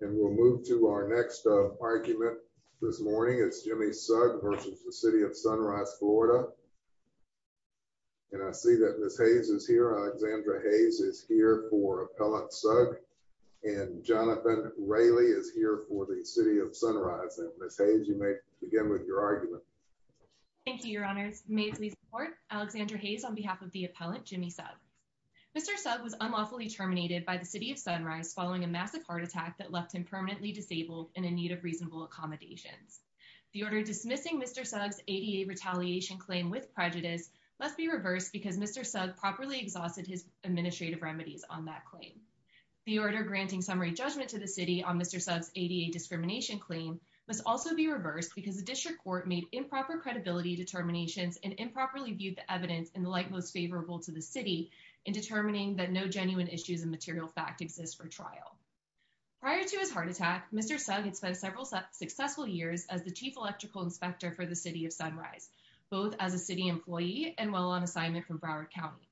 And we'll move to our next argument this morning. It's Jimmy Sugg v. City of Sunrise, Florida. And I see that Ms. Hayes is here. Alexandra Hayes is here for Appellant Sugg. And Jonathan Raley is here for the City of Sunrise. And Ms. Hayes, you may begin with your argument. Thank you, Your Honors. May it please the Court. Alexandra Hayes on behalf of the Appellant, Jimmy Sugg. Mr. Sugg was unlawfully terminated by the City of Sunrise following a massive heart attack that left him permanently disabled and in need of reasonable accommodations. The order dismissing Mr. Sugg's ADA retaliation claim with prejudice must be reversed because Mr. Sugg properly exhausted his administrative remedies on that claim. The order granting summary judgment to the City on Mr. Sugg's ADA discrimination claim must also be reversed because the District Court made improper credibility determinations and improperly viewed the evidence in the light most favorable to the City in determining that no genuine issues of material fact exist for trial. Prior to his heart attack, Mr. Sugg had spent several successful years as the Chief Electrical Inspector for the City of Sunrise, both as a City employee and while on assignment from Broward County.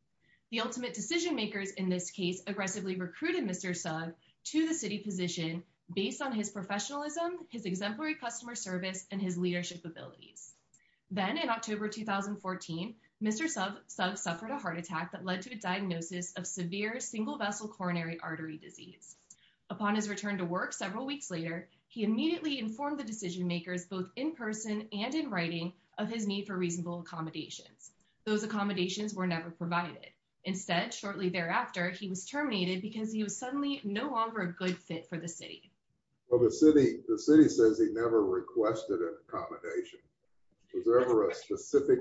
The ultimate decision makers in this case aggressively recruited Mr. Sugg to the City position based on his professionalism, his exemplary customer service, and his leadership abilities. Then in October 2014, Mr. Sugg suffered a heart attack that led to a diagnosis of severe single vessel coronary artery disease. Upon his return to work several weeks later, he immediately informed the decision makers both in person and in writing of his need for reasonable accommodations. Those accommodations were never provided. Instead, shortly thereafter, he was terminated because he was suddenly no longer a good fit for the City. Well, the City says he never requested an accommodation. Was there ever a specific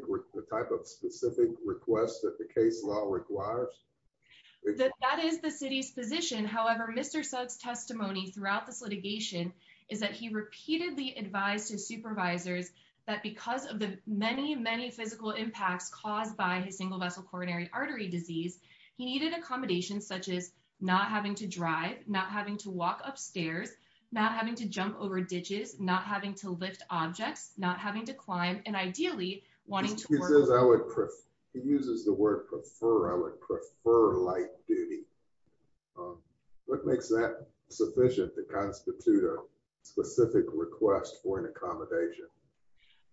type of specific request that the case law requires? That is the City's position. However, Mr. Sugg's testimony throughout this litigation is that he repeatedly advised his supervisors that because of the many, many physical impacts caused by his single vessel coronary artery disease, he needed accommodations such as not having to drive, not having to walk upstairs, not having to jump over ditches, not having to lift objects, not having to climb, and ideally, wanting to work. He uses the word prefer. I would prefer light duty. What makes that sufficient to constitute a specific request for an accommodation?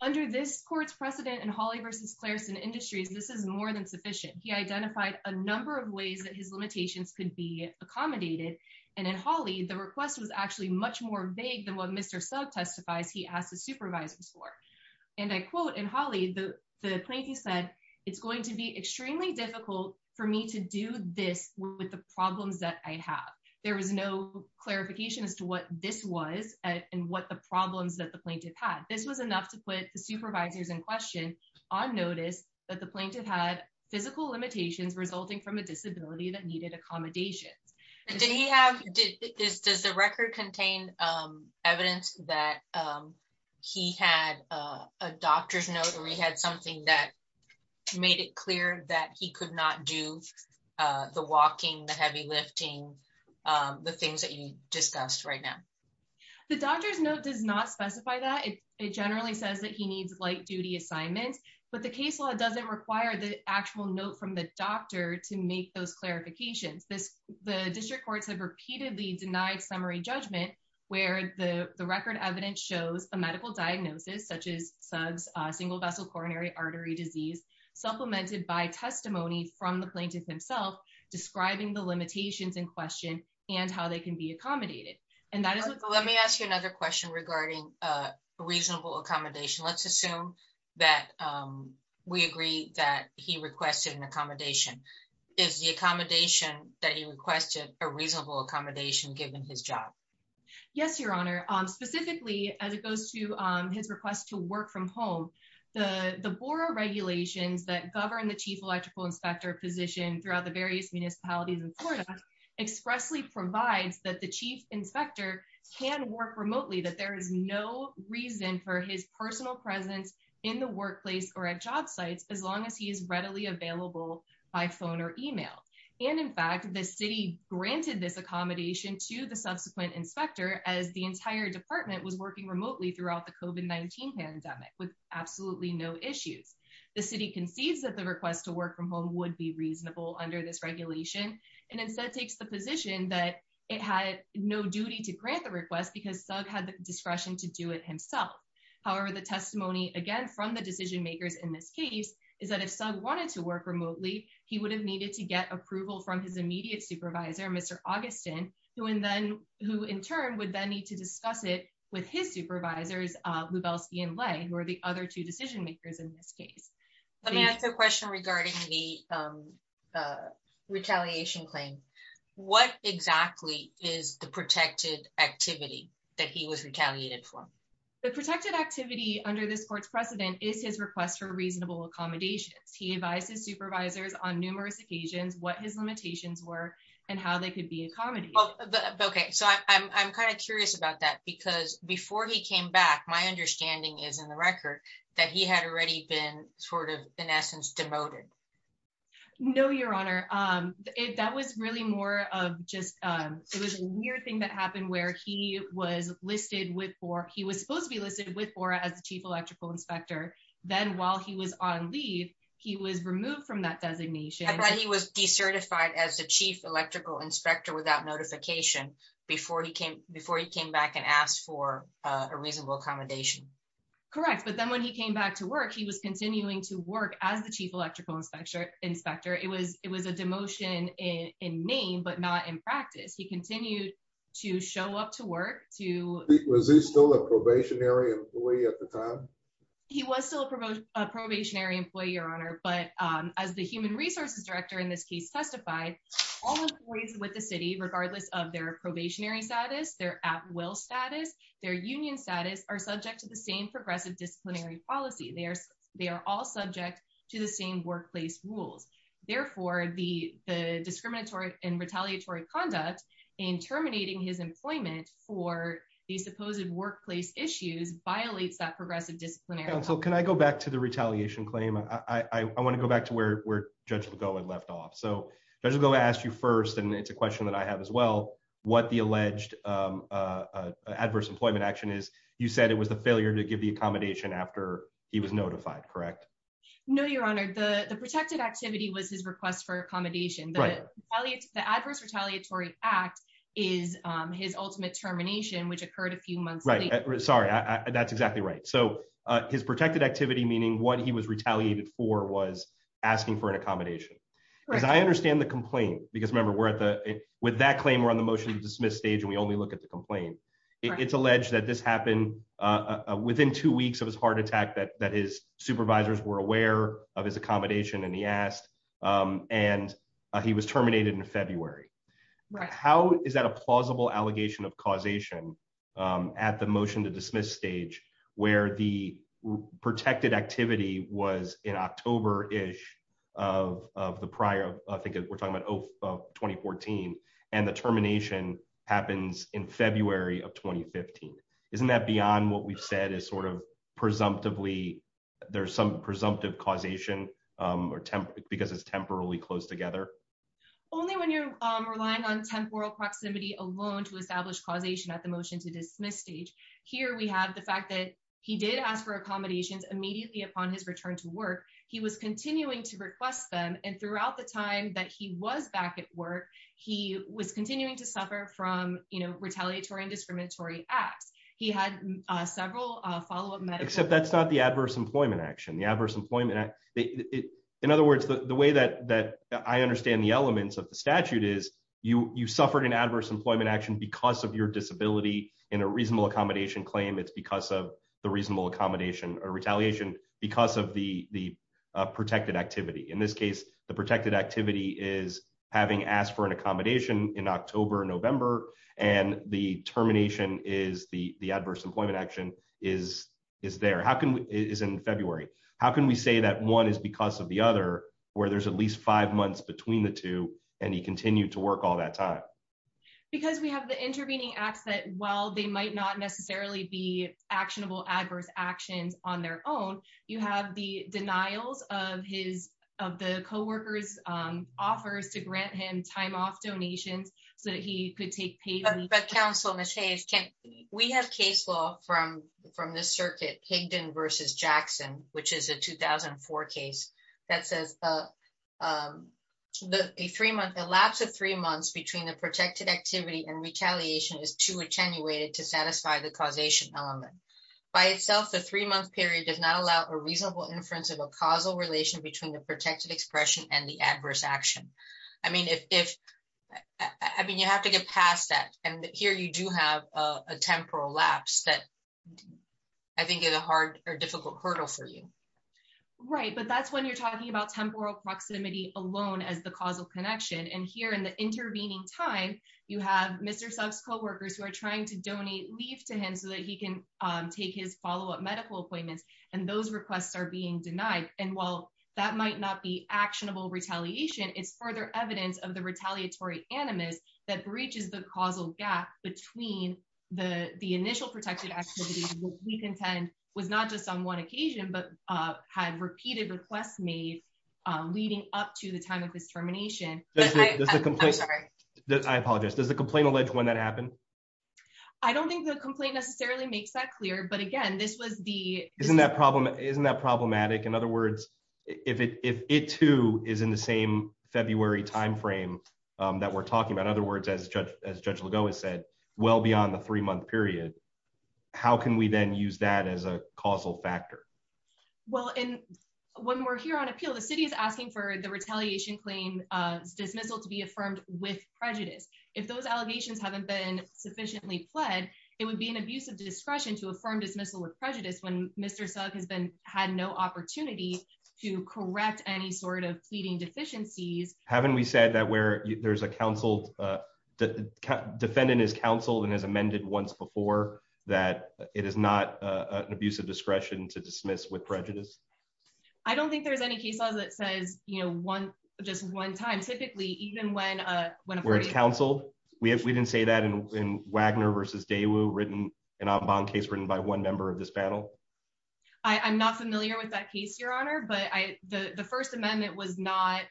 Under this court's precedent in Hawley v. Clareson Industries, this is more than sufficient. He identified a number of ways that his limitations could be accommodated. And in Hawley, the request was actually much more vague than what Mr. Sugg testifies he asked his supervisors for. And I quote in Hawley, the plaintiff said, it's going to be extremely difficult for me to do this with the problems that I have. There was no clarification as to what this was and what the problems that the plaintiff had. This was enough to put the supervisors in question on notice that the plaintiff had physical limitations resulting from a disability that needed accommodations. Did he have, does the record contain evidence that he had a doctor's note or he had something that made it clear that he could not do the walking, the heavy lifting, the things that you discussed right now? The doctor's note does not specify that. It generally says that he needs light duty assignments, but the case law doesn't require the actual note from the doctor to make those clarifications. The district courts have repeatedly denied summary judgment where the record evidence shows a medical diagnosis such as Sugg's single vessel coronary artery disease supplemented by testimony from the plaintiff himself describing the limitations in question and how they can be accommodated. And that is what- Let me ask you another question regarding reasonable accommodation. Let's assume that we agree that he requested an accommodation. Is the accommodation that he requested a reasonable accommodation given his job? Yes, your honor. Specifically, as it goes to his request to work from home, the BORA regulations that govern the chief electrical inspector position throughout the various municipalities in Florida expressly provides that the chief inspector can work or at job sites as long as he is readily available by phone or email. And in fact, the city granted this accommodation to the subsequent inspector as the entire department was working remotely throughout the COVID-19 pandemic with absolutely no issues. The city concedes that the request to work from home would be reasonable under this regulation and instead takes the position that it had no duty to grant the request because Sugg had the is that if Sugg wanted to work remotely, he would have needed to get approval from his immediate supervisor, Mr. Augustin, who in turn would then need to discuss it with his supervisors, Lubelski and Lay, who are the other two decision makers in this case. Let me ask a question regarding the retaliation claim. What exactly is the protected activity that he was retaliated for? The protected activity under this court's precedent is his request for reasonable accommodations. He advised his supervisors on numerous occasions what his limitations were and how they could be accommodated. Okay, so I'm kind of curious about that because before he came back, my understanding is in the record that he had already been sort of in essence demoted. No, your honor. That was really more of just it was a weird thing that happened where he was listed with BORA. He was supposed to be listed with BORA as the chief electrical inspector. Then while he was on leave, he was removed from that designation. But he was decertified as the chief electrical inspector without notification before he came before he came back and asked for a reasonable accommodation. Correct. But then when he came back to work, he was continuing to work as the chief electrical inspector. It was it was a demotion in name, but not in practice. He continued to show up to work. Was he still a employee at the time? He was still a probationary employee, your honor. But as the human resources director in this case testified, all employees with the city, regardless of their probationary status, their at-will status, their union status are subject to the same progressive disciplinary policy. They are all subject to the same workplace rules. Therefore, the discriminatory and retaliatory conduct in terminating his employment for the supposed workplace issues violates that progressive disciplinary council. Can I go back to the retaliation claim? I want to go back to where Judge Lagoa left off. So Judge Lagoa asked you first, and it's a question that I have as well, what the alleged adverse employment action is. You said it was the failure to give the accommodation after he was notified, correct? No, your honor. The protected activity was his request for accommodation. The Adverse Retaliatory Act is his ultimate termination, which occurred a few months later. Sorry, that's exactly right. So his protected activity, meaning what he was retaliated for, was asking for an accommodation. As I understand the complaint, because remember, with that claim, we're on the motion to dismiss stage, and we only look at the complaint. It's alleged that this happened within two weeks of his heart attack, that his supervisors were aware of his accommodation, and he asked, and he was terminated in February. Right. How is that a plausible allegation of causation at the motion to dismiss stage, where the protected activity was in October-ish of the prior, I think we're talking about 2014, and the termination happens in February of 2015? Isn't that beyond what we've said is sort of presumptively, there's some presumptive causation, because it's only when you're relying on temporal proximity alone to establish causation at the motion to dismiss stage. Here, we have the fact that he did ask for accommodations immediately upon his return to work. He was continuing to request them, and throughout the time that he was back at work, he was continuing to suffer from retaliatory and discriminatory acts. He had several follow-up medics. Except that's not the Adverse Employment Act. In other words, the way that I understand the elements of the statute is, you suffered an adverse employment action because of your disability in a reasonable accommodation claim. It's because of the reasonable accommodation or retaliation because of the protected activity. In this case, the protected activity is having asked for an accommodation in October, November, and the termination is the adverse employment action is there, is in February. How can we say that one is because of the other, where there's at least five months between the two, and he continued to work all that time? Because we have the intervening acts that, while they might not necessarily be actionable adverse actions on their own, you have the denials of the co-workers' offers to grant him time off donations so that he could take paid leave. But counsel, we have case law from this circuit, Higdon versus Jackson, which is a 2004 case that says a lapse of three months between the protected activity and retaliation is too attenuated to satisfy the causation element. By itself, the three-month period does not allow a reasonable inference of a causal relation between the protected expression and the adverse action. I mean, you have to get past that. And here you do have a temporal lapse that I think is a hard or difficult hurdle for you. Right, but that's when you're talking about temporal proximity alone as the causal connection. And here in the intervening time, you have Mr. Suk's co-workers who are trying to donate leave to him so that he can take his follow-up medical appointments, and those requests are being denied. And while that might not be actionable retaliation, it's further evidence of the gap between the initial protected activity, which we contend was not just on one occasion, but had repeated requests made leading up to the time of this termination. I apologize. Does the complaint allege when that happened? I don't think the complaint necessarily makes that clear. But again, this was the... Isn't that problematic? In other words, if it too is in the same February time frame that we're talking about, in other words, as Judge Lagoa said, well beyond the three-month period, how can we then use that as a causal factor? Well, when we're here on appeal, the city is asking for the retaliation claim dismissal to be affirmed with prejudice. If those allegations haven't been sufficiently pled, it would be an abuse of discretion to affirm dismissal with prejudice when Mr. Suk has had no opportunity to correct any sort of pleading deficiencies. Haven't we said that where there's a counsel... Defendant is counseled and has amended once before that it is not an abuse of discretion to dismiss with prejudice? I don't think there's any case law that says just one time. Typically, even when a party... Where it's counseled? We didn't say that in Wagner versus Daewoo, an en banc case written by one member of this panel? I'm not familiar with that case, Your Honor, but the First Amendment was not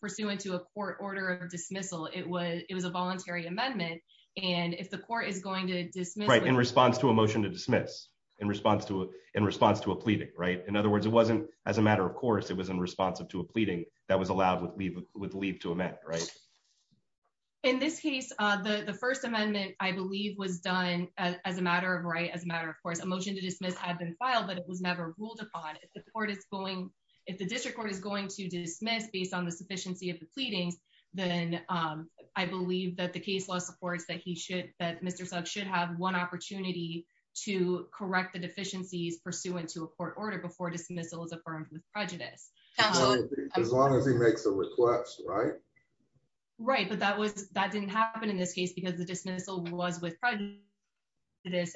pursuant to a court order of dismissal. It was a voluntary amendment. And if the court is going to dismiss... Right, in response to a motion to dismiss, in response to a pleading, right? In other words, it wasn't as a matter of course, it was in response to a pleading that was allowed with leave to amend, right? In this case, the First Amendment, I believe, was done as a matter of right, as a matter of course. A motion to dismiss had been filed, but it was never ruled upon. If the court is going... If the district court is going to dismiss based on the sufficiency of the pleadings, then I believe that the case law supports that he should... That Mr. Sugg should have one opportunity to correct the deficiencies pursuant to a court order before dismissal is affirmed with prejudice. Absolutely. As long as he makes a request, right? Right, but that didn't happen in this case because the dismissal was with prejudice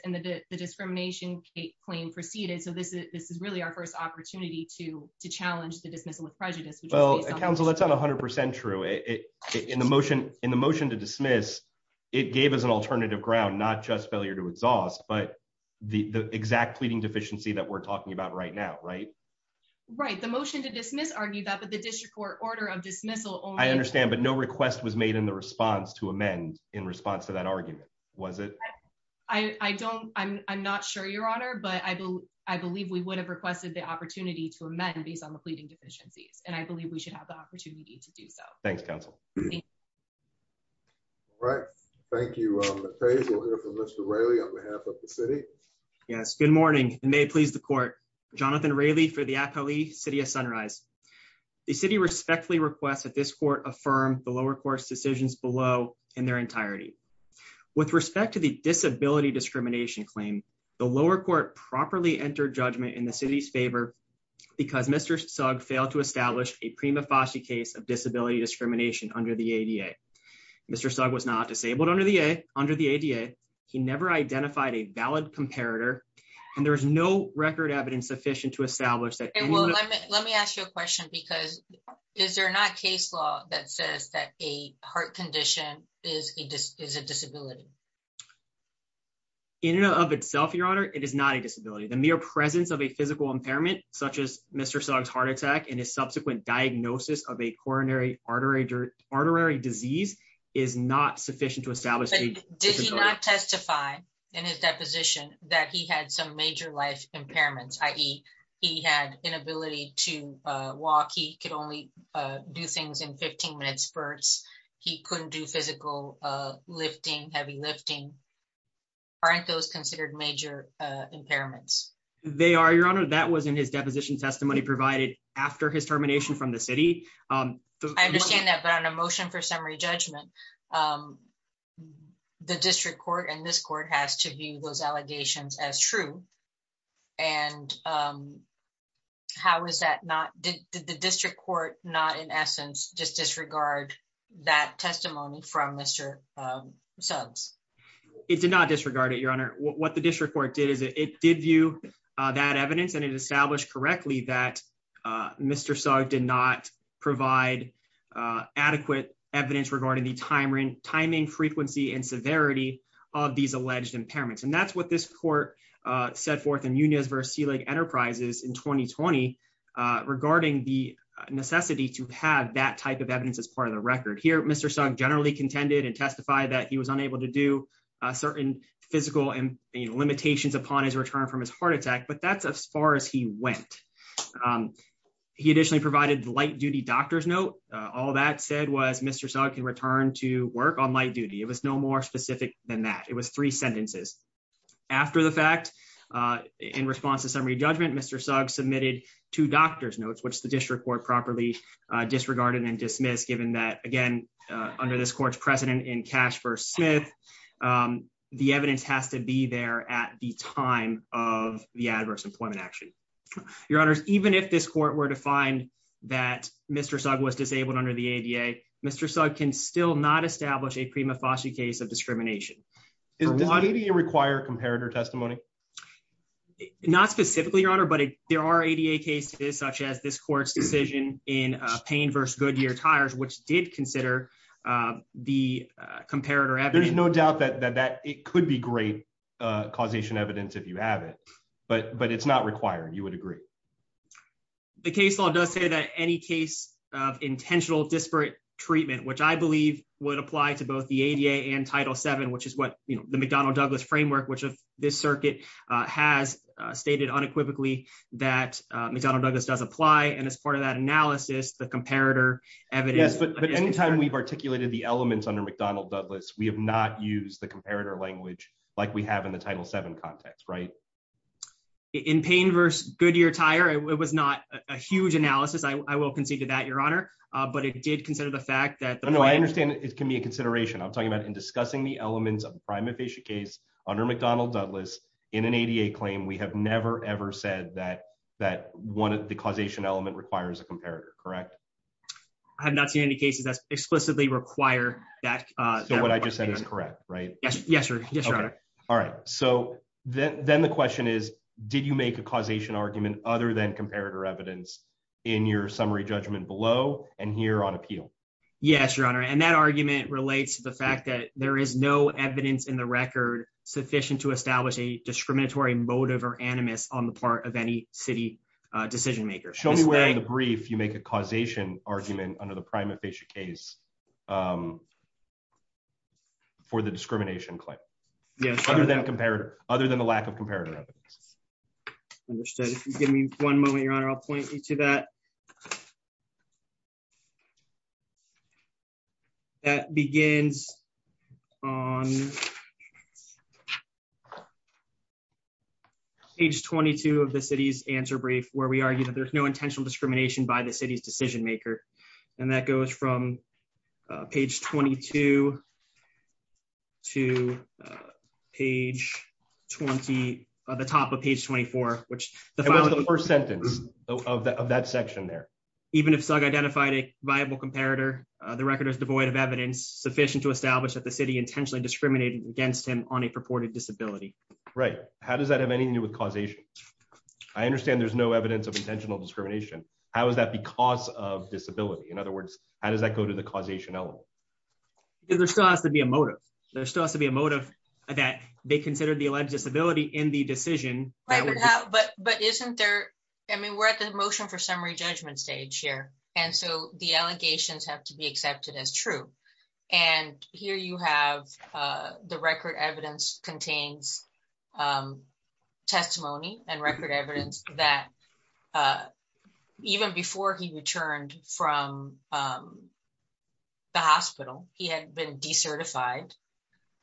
and the discrimination claim proceeded. So this is really our first opportunity to challenge the dismissal with prejudice, which is based on... Counsel, that's not 100% true. In the motion to dismiss, it gave us an alternative ground, not just failure to exhaust, but the exact pleading deficiency that we're talking about right now, right? Right. The motion to dismiss argued that, but the district court order of dismissal only... I understand, but no request was made in the response to that argument, was it? I don't... I'm not sure, Your Honor, but I believe we would have requested the opportunity to amend based on the pleading deficiencies, and I believe we should have the opportunity to do so. Thanks, counsel. All right. Thank you, Mackay. We'll hear from Mr. Raley on behalf of the city. Yes. Good morning, and may it please the court. Jonathan Raley for the Akali City of Sunrise. The city respectfully requests that this court affirm the lower court's decisions below in their entirety. With respect to the disability discrimination claim, the lower court properly entered judgment in the city's favor because Mr. Sugg failed to establish a prima facie case of disability discrimination under the ADA. Mr. Sugg was not disabled under the ADA. He never identified a valid comparator, and there was no record evidence sufficient to establish that... Well, let me ask you a question because is there not case law that says that a heart condition is a disability? In and of itself, Your Honor, it is not a disability. The mere presence of a physical impairment such as Mr. Sugg's heart attack and his subsequent diagnosis of a coronary artery disease is not sufficient to establish... But did he not testify in his deposition that he inability to walk? He could only do things in 15-minute spurts. He couldn't do physical lifting, heavy lifting. Aren't those considered major impairments? They are, Your Honor. That was in his deposition testimony provided after his termination from the city. I understand that, but on a motion for summary judgment, the district court and this court has to view those allegations as true. How is that not... Did the district court not, in essence, just disregard that testimony from Mr. Suggs? It did not disregard it, Your Honor. What the district court did is it did view that evidence and it established correctly that Mr. Sugg did not provide adequate evidence regarding timing, frequency, and severity of these alleged impairments. That's what this court set forth in Nunez v. Selig Enterprises in 2020 regarding the necessity to have that type of evidence as part of the record. Here, Mr. Sugg generally contended and testified that he was unable to do certain physical limitations upon his return from his heart attack, but that's as far as he went. He additionally provided light-duty doctor's note. All that said was Mr. Sugg can return to work on light duty. It was no more specific than that. It was three sentences. After the fact, in response to summary judgment, Mr. Sugg submitted two doctor's notes, which the district court properly disregarded and dismissed given that, again, under this court's precedent in Cash v. Smith, the evidence has to be there at the time of the adverse employment action. Your Honors, even if this court were to find that Mr. Sugg was disabled under the ADA, Mr. Sugg can still not establish a prima facie case of discrimination. Does the ADA require comparator testimony? Not specifically, Your Honor, but there are ADA cases such as this court's decision in Payne v. Goodyear Tires, which did consider the comparator evidence. There's no doubt that it could be great causation evidence if you have it, but it's not required. You would agree? The case law does say that any case of intentional disparate treatment, which I believe would apply to both the ADA and Title VII, which is what the McDonnell-Douglas framework, which this circuit has stated unequivocally that McDonnell-Douglas does apply, and as part of that analysis, the comparator evidence- Yes, but anytime we've articulated the elements under McDonnell-Douglas, we have not used the comparator language like we have in the Title VII context, right? In Payne v. Goodyear Tire, it was not a huge analysis. I will concede to that, Your Honor, but it did consider the fact that- No, I understand it can be a consideration. I'm talking about in discussing the elements of the prima facie case under McDonnell-Douglas in an ADA claim, we have never, ever said that the causation element requires a comparator, correct? I have not seen any cases that explicitly require that- So what I just said is correct, right? Yes, sir. Yes, Your Honor. All right. So then the question is, did you make a causation argument other than comparator evidence in your summary judgment below and here on appeal? Yes, Your Honor, and that argument relates to the fact that there is no evidence in the record sufficient to establish a discriminatory motive or animus on the part of any city decision-makers. Show me where in the brief you make a causation argument under the prima facie case for the discrimination claim. Other than the lack of comparator evidence. Understood. If you give me one moment, Your Honor, I'll point you to that. That begins on page 22 of the city's answer brief, where we argue that there's no intentional discrimination by the city's decision-maker, and that goes from page 22 to the top of page 24, which- That was the first sentence of that section there. Even if Sugg identified a viable comparator, the record is devoid of evidence sufficient to establish that the city intentionally discriminated against him on a purported disability. Right. How does that have anything to do with causation? I understand there's no evidence of intentional discrimination. How is that because of disability? In other words, how does that go to the causation element? There still has to be a motive. There still has to be a motive that they considered the alleged disability in the decision. But isn't there, I mean, we're at the motion for summary judgment stage here. And so the allegations have to be accepted as true. And here you have the record evidence contains testimony and record evidence that even before he returned from the hospital, he had been decertified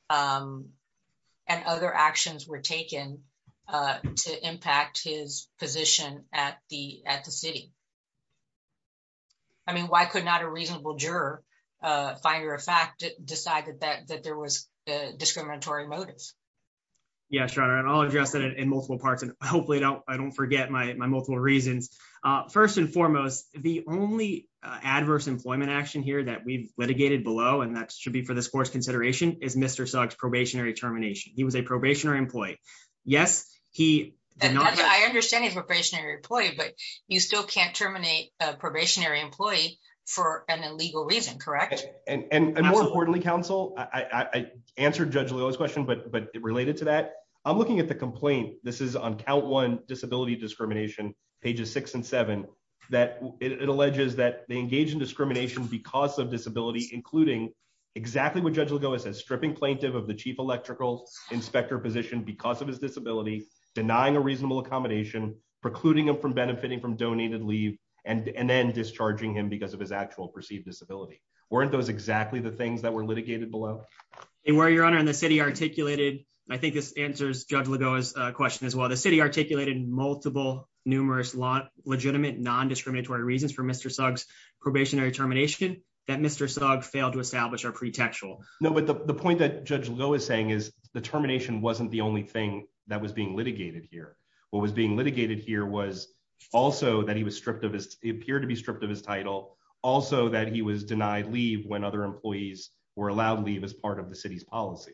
and other actions were taken to impact his position at the city. I mean, why could not a reasonable juror, finder of fact, decide that there was a discriminatory motive? Yeah, sure. And I'll address that in multiple parts. And hopefully I don't forget my multiple reasons. First and foremost, the only adverse employment action here that we've litigated below, and that should be for this course consideration is Mr. Sugg's probationary termination. He was a probationary employee. Yes, he did not. I understand he's a probationary employee, but you still can't terminate a probationary employee for an illegal reason, correct? And more importantly, counsel, I answered Judge Lillo's question, but related to that, I'm looking at the complaint. This is on count one disability discrimination, pages six and seven, that it alleges that they engage in discrimination because of disability, including exactly what Judge Lillo says, stripping plaintiff of the chief electrical inspector position because of his disability, denying a reasonable accommodation, precluding him from benefiting from donated leave, and then discharging him because of his actual perceived disability. Weren't those exactly the things that were litigated below? And where your honor in the city articulated, and I think this answers Judge Lillo's question as well, the city articulated multiple numerous legitimate non-discriminatory reasons for Mr. Sugg's probationary termination that Mr. Sugg failed to establish are pretextual. No, but the point that Judge Lillo is saying is the termination wasn't the only thing that was being litigated here. What was being litigated here was also that he was stripped of his, he appeared to be stripped of his title, also that he was denied leave when other employees were allowed leave as part of the city's policy.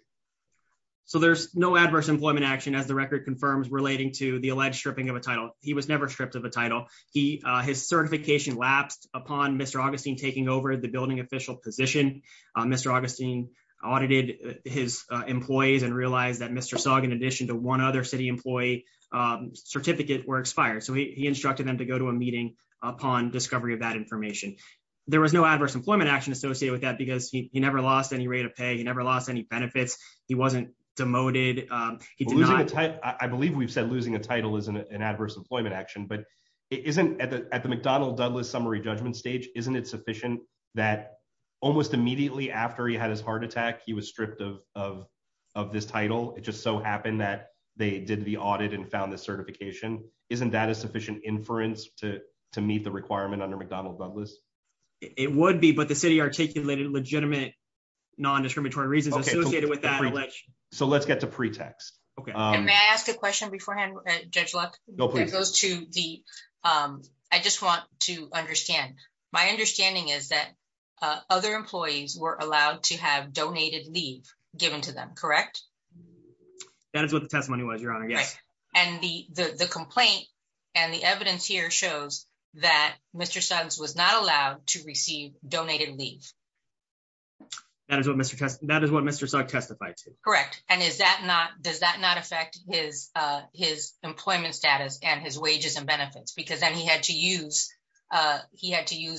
There's no adverse employment action, as the record confirms, relating to the alleged stripping of a title. He was never stripped of a title. His certification lapsed upon Mr. Augustine taking over the building official position. Mr. Augustine audited his employees and realized that Mr. Sugg, in addition to one other city employee, certificate were expired. So he instructed them to go to a meeting upon discovery of that information. There was no adverse employment action associated with that because he never lost any rate of pay. He never lost any benefits. He wasn't demoted. I believe we've said losing a title is an adverse employment action, but at the McDonald-Dudless summary judgment stage, isn't it sufficient that almost immediately after he had his heart attack, he was stripped of this title? It just so happened that they did the audit and found the certification. Isn't that a sufficient inference to meet the requirement under McDonald-Dudless? It would be, but the city articulated legitimate non-discriminatory reasons associated with that. So let's get to pretext. Okay. May I ask a question beforehand, Judge Luck? No, please. I just want to understand. My understanding is that other employees were allowed to have donated leave given to them, correct? That is what the testimony was, Your Honor. Yes. And the complaint and the evidence here shows that Mr. Sugg was not allowed to receive donated leave. That is what Mr. Sugg testified to. Correct. And does that not affect his employment status and his wages and benefits? Because then he had to use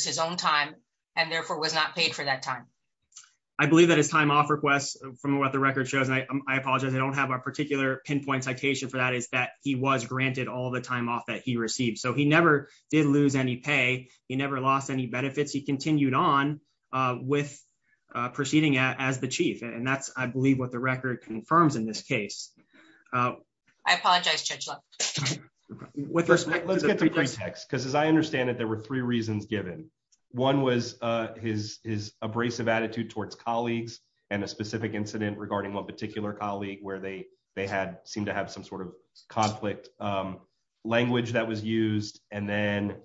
his own time and therefore was not paid for that time. I believe that his time off request from what the record shows, and I apologize, I don't have a particular pinpoint citation for that, is that he was granted all the time off that he received. So he never did lose any pay. He never lost any benefits. He continued on with proceeding as the chief. And that's, I believe, what the record confirms in this case. I apologize, Judge Luck. Let's get to pretext. Because as I understand it, there were three reasons given. One was his abrasive attitude towards colleagues and a specific incident regarding one particular colleague where they seemed to have some sort of conflict language that was used. And then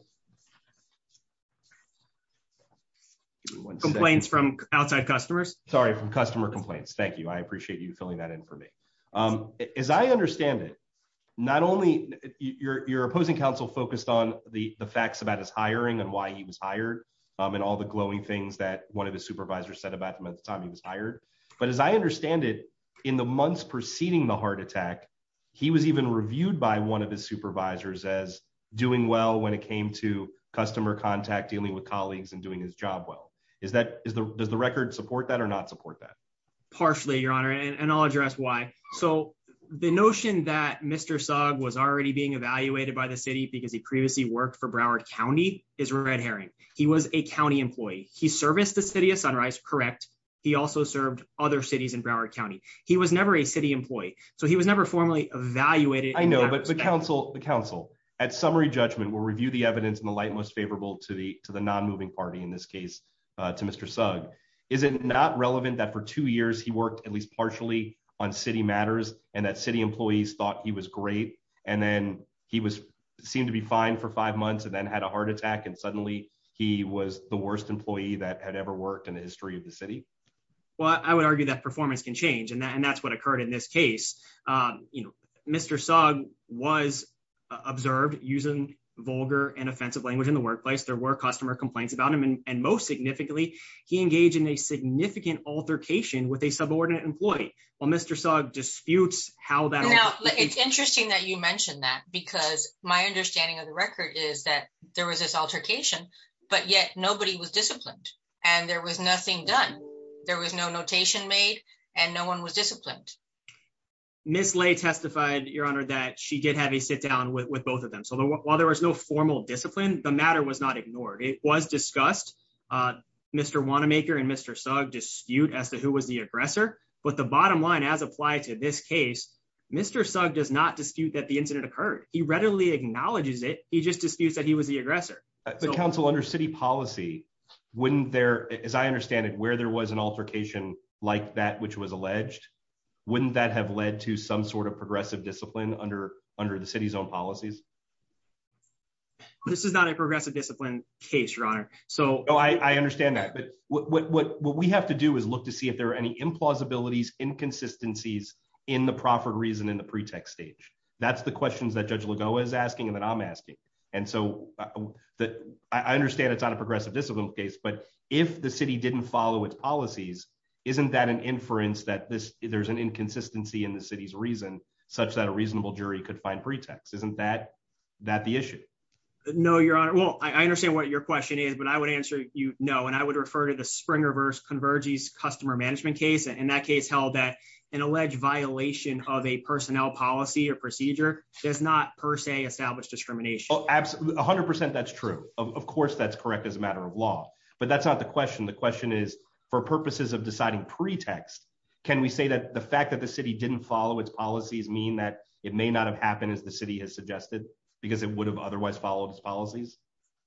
complaints from outside customers. Sorry, from customer complaints. Thank you. I appreciate you filling that in for me. As I understand it, not only your opposing counsel focused on the facts about his hiring and why he was hired and all the glowing things that one of his supervisors said about him at the time he was hired. But as I understand it, in the months preceding the heart attack, he was even reviewed by one of his supervisors as doing well when it came to customer contact, dealing with colleagues and doing his job well. Does the record support that or not support that? Partially, Your Honor. And I'll address why. So the notion that Mr. Sugg was already being evaluated by the city because he previously worked for Broward County is red herring. He was a county employee. He serviced the city of Sunrise. Correct. He also served other cities in Broward County. He was never a city employee. So he was never formally evaluated. I know, but the counsel, the counsel at summary judgment will review the evidence in the light most favorable to the to the non-moving party in this case to Mr. Sugg. Is it not relevant that for two years he worked at least partially on city matters and that city employees thought he was great and then he was seemed to be fine for five months and then had a heart attack and suddenly he was the worst employee that had ever worked in the history of the city? Well, I would argue that performance can change. And that's what occurred in this case. You know, Mr. Sugg was observed using vulgar and offensive language in the workplace. There were customer complaints about him. And most significantly, he engaged in a significant altercation with a subordinate employee. Well, Mr. Sugg disputes how that. Now, it's interesting that you mentioned that because my understanding of the record is that there was this altercation, but yet nobody was disciplined and there was nothing done. There was no notation made and no one was disciplined. Ms. Lay testified, Your Honor, that she did have a sit down with both of them. So while there was no formal discipline, the matter was not ignored. It was discussed. Mr. Wanamaker and Mr. Sugg dispute as to who was the aggressor. But the bottom line, as applied to this case, Mr. Sugg does not dispute that the incident occurred. He readily acknowledges it. He just disputes that he was the aggressor. The council under city policy, wouldn't there, as I understand it, where there was an altercation like that which was alleged, wouldn't that have led to some sort of progressive discipline under the city's own policies? This is not a progressive discipline case, Your Honor. So I understand that. But what we have to do is look to see if there are any implausibilities, inconsistencies in the proffered reason in the pretext stage. That's the questions that Judge Lagoa is asking and that I'm asking. And so I understand it's not a progressive discipline case. But if the city didn't follow its policies, isn't that an inference that there's an inconsistency in the city's reason such that a reasonable jury could find pretext? Isn't that the issue? No, Your Honor. Well, I understand what your question is, but I would answer you no. And I would refer to the Springer versus Convergy's customer management case. And that case held that an alleged violation of a personnel policy or procedure does not per se establish discrimination. 100% that's true. Of course, that's correct as a matter of law. But that's not the question. The question is, for purposes of deciding pretext, can we say that the fact that the city didn't follow its policies mean that it may not have happened as the city has suggested because it would have otherwise followed its policies?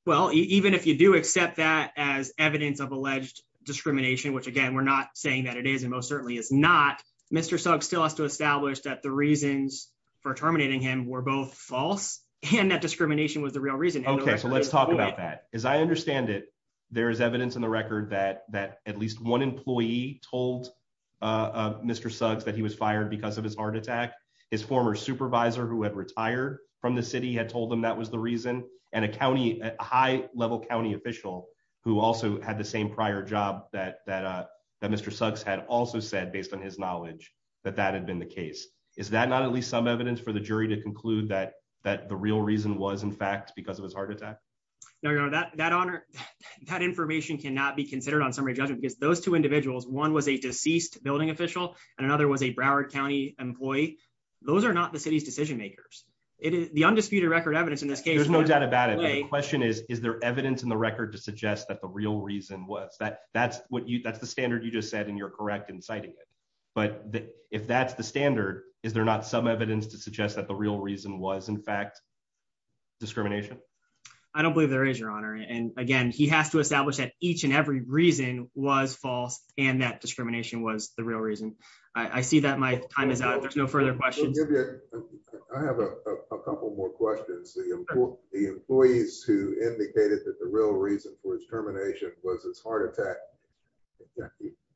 Well, even if you do accept that as evidence of alleged discrimination, which again, we're not saying that it is and most certainly it's not. Mr. Sugg still has to establish that the reasons for terminating him were both false and that discrimination was the real reason. OK, so let's talk about that. As I understand it, there is evidence in the record that that at least one employee told Mr. Suggs that he was fired because of his heart attack. His former supervisor, who had retired from the city, had told them that was the reason and a county high level county official who also had the same prior job that that Mr. Suggs had also said, based on his knowledge that that had been the case. Is that not at least some evidence for the jury to conclude that that the real reason was, in fact, because of his heart attack? No, that that honor, that information cannot be considered on summary judgment because those two individuals, one was a deceased building official and another was a Broward County employee. Those are not the city's decision makers. It is the undisputed record evidence in this case. There's no doubt about it. The question is, is there evidence in the record to suggest that the real reason was that that's what that's the standard you just said, and you're correct in citing it. But if that's the standard, is there not some evidence to suggest that the real reason was, in fact, discrimination? I don't believe there is, Your Honor. And again, he has to establish that each and every reason was false and that discrimination was the real reason. I see that my time is out. There's no further questions. I have a couple more questions. The employees who indicated that the real reason for his termination was his heart attack.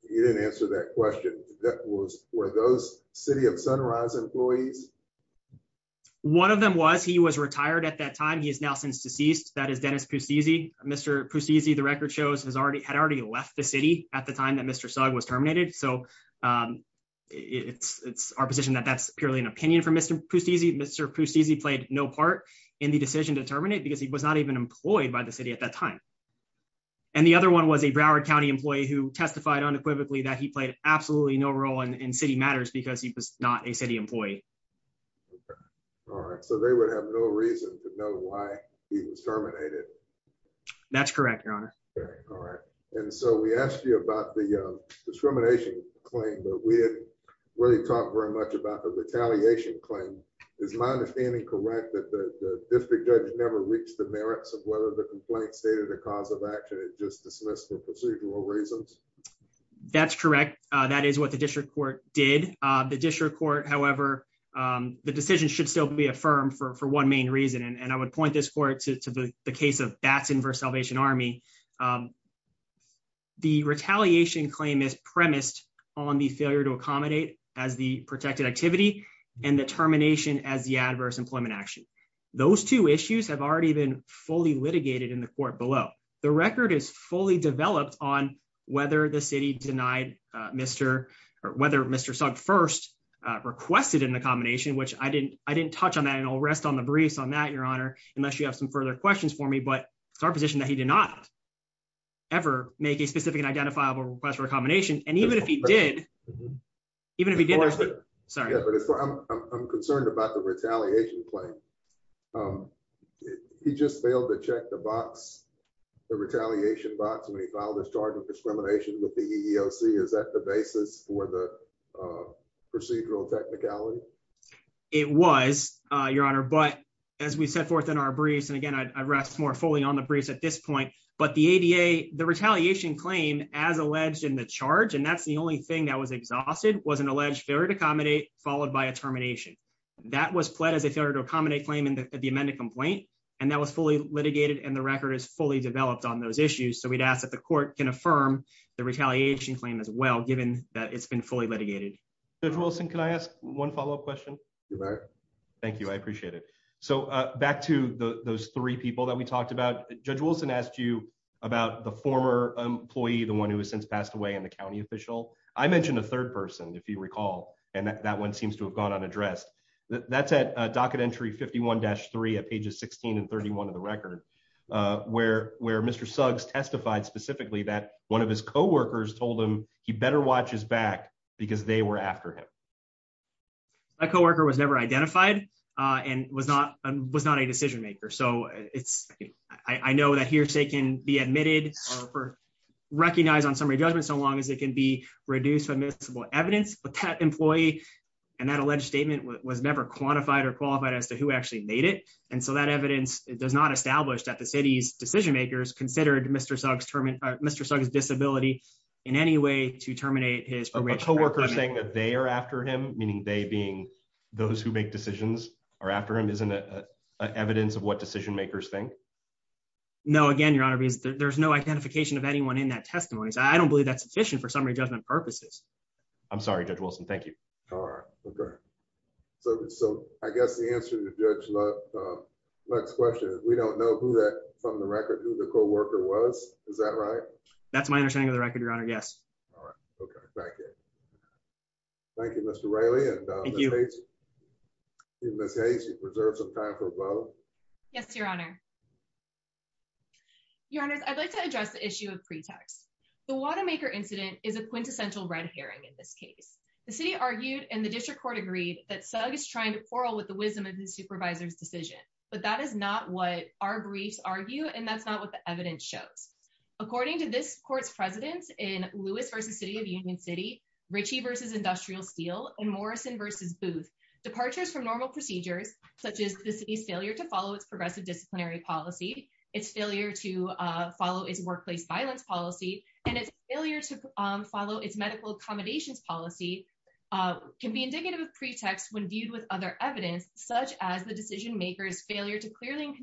You didn't answer that question. That was for those City of Sunrise employees. One of them was he was retired at that time. He is now since deceased. That is Dennis Pustizzi. Mr. Pustizzi, the record shows, had already left the city at the time that Mr. Sugg was terminated. So it's our position that that's purely an opinion from Mr. Pustizzi. Mr. Pustizzi played no part in the decision to terminate because he was not even employed by the city at that time. And the other one was a Broward County employee who testified unequivocally that he played absolutely no role in City Matters because he was not a city employee. All right. So they would have no reason to know why he was terminated. That's correct, Your Honor. All right. And so we asked you about the discrimination claim, but we didn't really talk very much about the retaliation claim. Is my understanding correct that the district judge never reached the merits of whether the complaint stated a cause of action and just dismissed for procedural reasons? That's correct. That is what the district court did. The district court, however, the decision should still be affirmed for one main reason. And I would point this court to the case of Batson versus Salvation Army. The retaliation claim is premised on the failure to accommodate as the protected activity and the termination as the adverse employment action. Those two issues have already been fully litigated in the court below. The record is fully developed on whether the city denied Mr. or whether Mr. Sugg first requested an accommodation, which I didn't touch on that. And I'll rest on the briefs on that, Your Honor, unless you have some further questions for me. But it's our position that he did not ever make a specific identifiable request for accommodation. And even if he did, even if he did, I'm concerned about the retaliation claim. Um, he just failed to check the box, the retaliation box when he filed his charge of discrimination with the EEOC. Is that the basis for the procedural technicality? It was, Your Honor. But as we set forth in our briefs, and again, I rest more fully on the briefs at this point, but the ADA, the retaliation claim as alleged in the charge, and that's the only thing that was exhausted was an alleged failure to accommodate, followed by a termination. That was pled as a failure to accommodate claim in the amended complaint. And that was fully litigated. And the record is fully developed on those issues. So we'd ask that the court can affirm the retaliation claim as well, given that it's been fully litigated. Judge Wilson, can I ask one follow-up question? Thank you. I appreciate it. So back to those three people that we talked about, Judge Wilson asked you about the former employee, the one who has since passed away and the county official. I mentioned a third person, if you recall, and that one seems to have gone unaddressed. That's at docket entry 51-3 at pages 16 and 31 of the record, where Mr. Suggs testified specifically that one of his co-workers told him he better watch his back because they were after him. My co-worker was never identified and was not a decision maker. So I know that hearsay can be admitted or recognized on summary judgment so long as it can be reduced to admissible evidence. But that employee and that alleged statement was never quantified or qualified as to who actually made it. And so that evidence does not establish that the city's decision makers considered Mr. Suggs disability in any way to terminate his prerogative. A co-worker saying that they are after him, meaning they being those who make decisions are after him, isn't it evidence of what decision makers think? No, again, Your Honor, there's no identification of anyone in that testimony. So I don't believe that's sufficient for summary judgment purposes. I'm sorry, Judge Wilson. Thank you. All right. Okay. So I guess the answer to Judge Lutt's question is we don't know who that from the record who the co-worker was. Is that right? That's my understanding of the record, Your Honor. All right. Okay. Thank you. Thank you, Mr. Riley and Ms. Hayes. You preserved some time for both. Yes, Your Honor. Your Honors, I'd like to address the issue of pretext. The Watermaker incident is a quintessential red herring in this case. The city argued and the district court agreed that Sugg is trying to quarrel with the wisdom of the supervisor's decision. But that is not what our briefs argue. And that's not what the evidence shows. According to this court's presidents in Lewis v. City of Union City, Ritchie v. Industrial Steel, and Morrison v. Booth, departures from normal procedures, such as the city's failure to follow its progressive and its failure to follow its medical accommodations policy, can be indicative of pretext when viewed with other evidence, such as the decision maker's failure to clearly and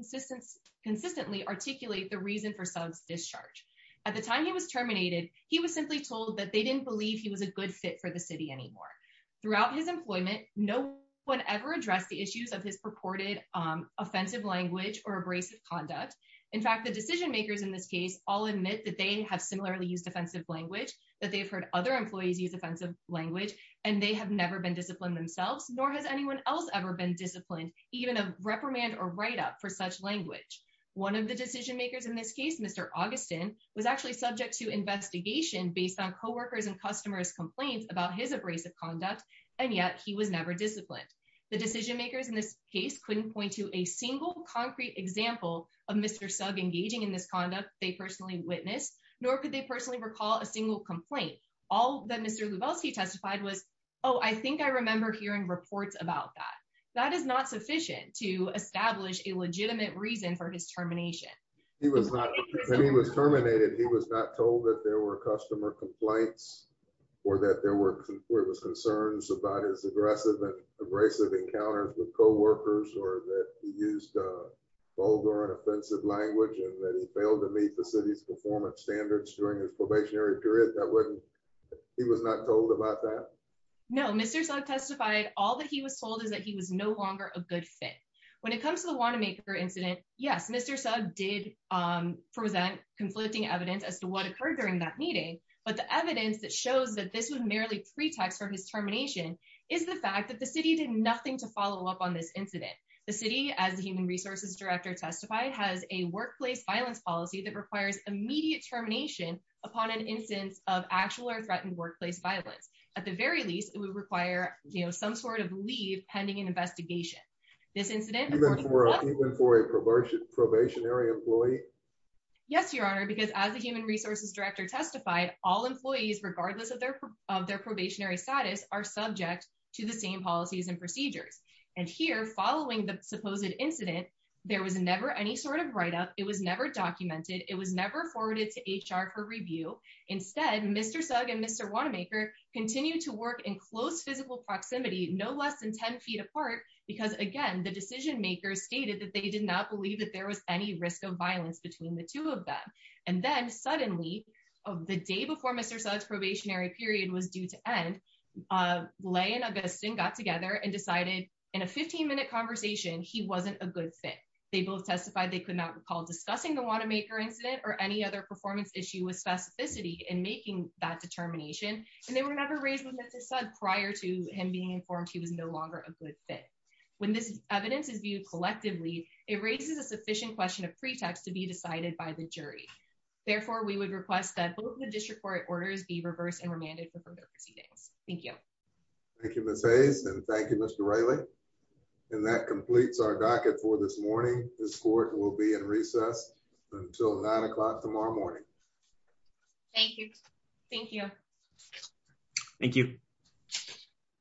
consistently articulate the reason for Sugg's discharge. At the time he was terminated, he was simply told that they didn't believe he was a good fit for the city anymore. Throughout his employment, no one ever addressed the issues of his purported offensive language or abrasive conduct. In fact, the decision makers in this case all admit that they have similarly used offensive language, that they've heard other employees use offensive language, and they have never been disciplined themselves, nor has anyone else ever been disciplined, even a reprimand or write-up for such language. One of the decision makers in this case, Mr. Augustin, was actually subject to investigation based on coworkers' and customers' complaints about his abrasive conduct, and yet he was never disciplined. The decision makers in this case couldn't point to a single concrete example of Mr. Sugg engaging in this conduct they personally witnessed, nor could they personally recall a single complaint. All that Mr. Lubelski testified was, oh, I think I remember hearing reports about that. That is not sufficient to establish a legitimate reason for his termination. When he was terminated, he was not told that there were customer complaints or that there were abrasive encounters with coworkers or that he used vulgar and offensive language and that he failed to meet the city's performance standards during his probationary period. That wasn't, he was not told about that? No, Mr. Sugg testified all that he was told is that he was no longer a good fit. When it comes to the Wanamaker incident, yes, Mr. Sugg did present conflicting evidence as to what occurred during that meeting, but the evidence that shows that this was merely a pretext for his termination is the fact that the city did nothing to follow up on this incident. The city, as the human resources director testified, has a workplace violence policy that requires immediate termination upon an instance of actual or threatened workplace violence. At the very least, it would require, you know, some sort of leave pending an investigation. Even for a probationary employee? Yes, Your Honor, because as the human resources director testified, all employees, regardless of their probationary status, are subject to the same policies and procedures. And here, following the supposed incident, there was never any sort of write-up. It was never documented. It was never forwarded to HR for review. Instead, Mr. Sugg and Mr. Wanamaker continued to work in close physical proximity, no less than 10 feet apart, because again, the decision makers stated that they did not believe that there was any risk of violence between the two of them. And then suddenly, the day before Mr. Sugg's probationary period was due to end, Leigh and Augustine got together and decided in a 15-minute conversation, he wasn't a good fit. They both testified they could not recall discussing the Wanamaker incident or any other performance issue with specificity in making that determination. And they were never raised with Mr. Sugg prior to him being informed he was no longer a good fit. When this evidence is viewed collectively, it raises a sufficient question of pretext to be decided by the jury. Therefore, we would request that both the district court orders be reversed and remanded for further proceedings. Thank you. Thank you, Ms. Hayes. And thank you, Mr. Reilly. And that completes our docket for this morning. This court will be in recess until 9 o'clock tomorrow morning. Thank you. Thank you. Thank you.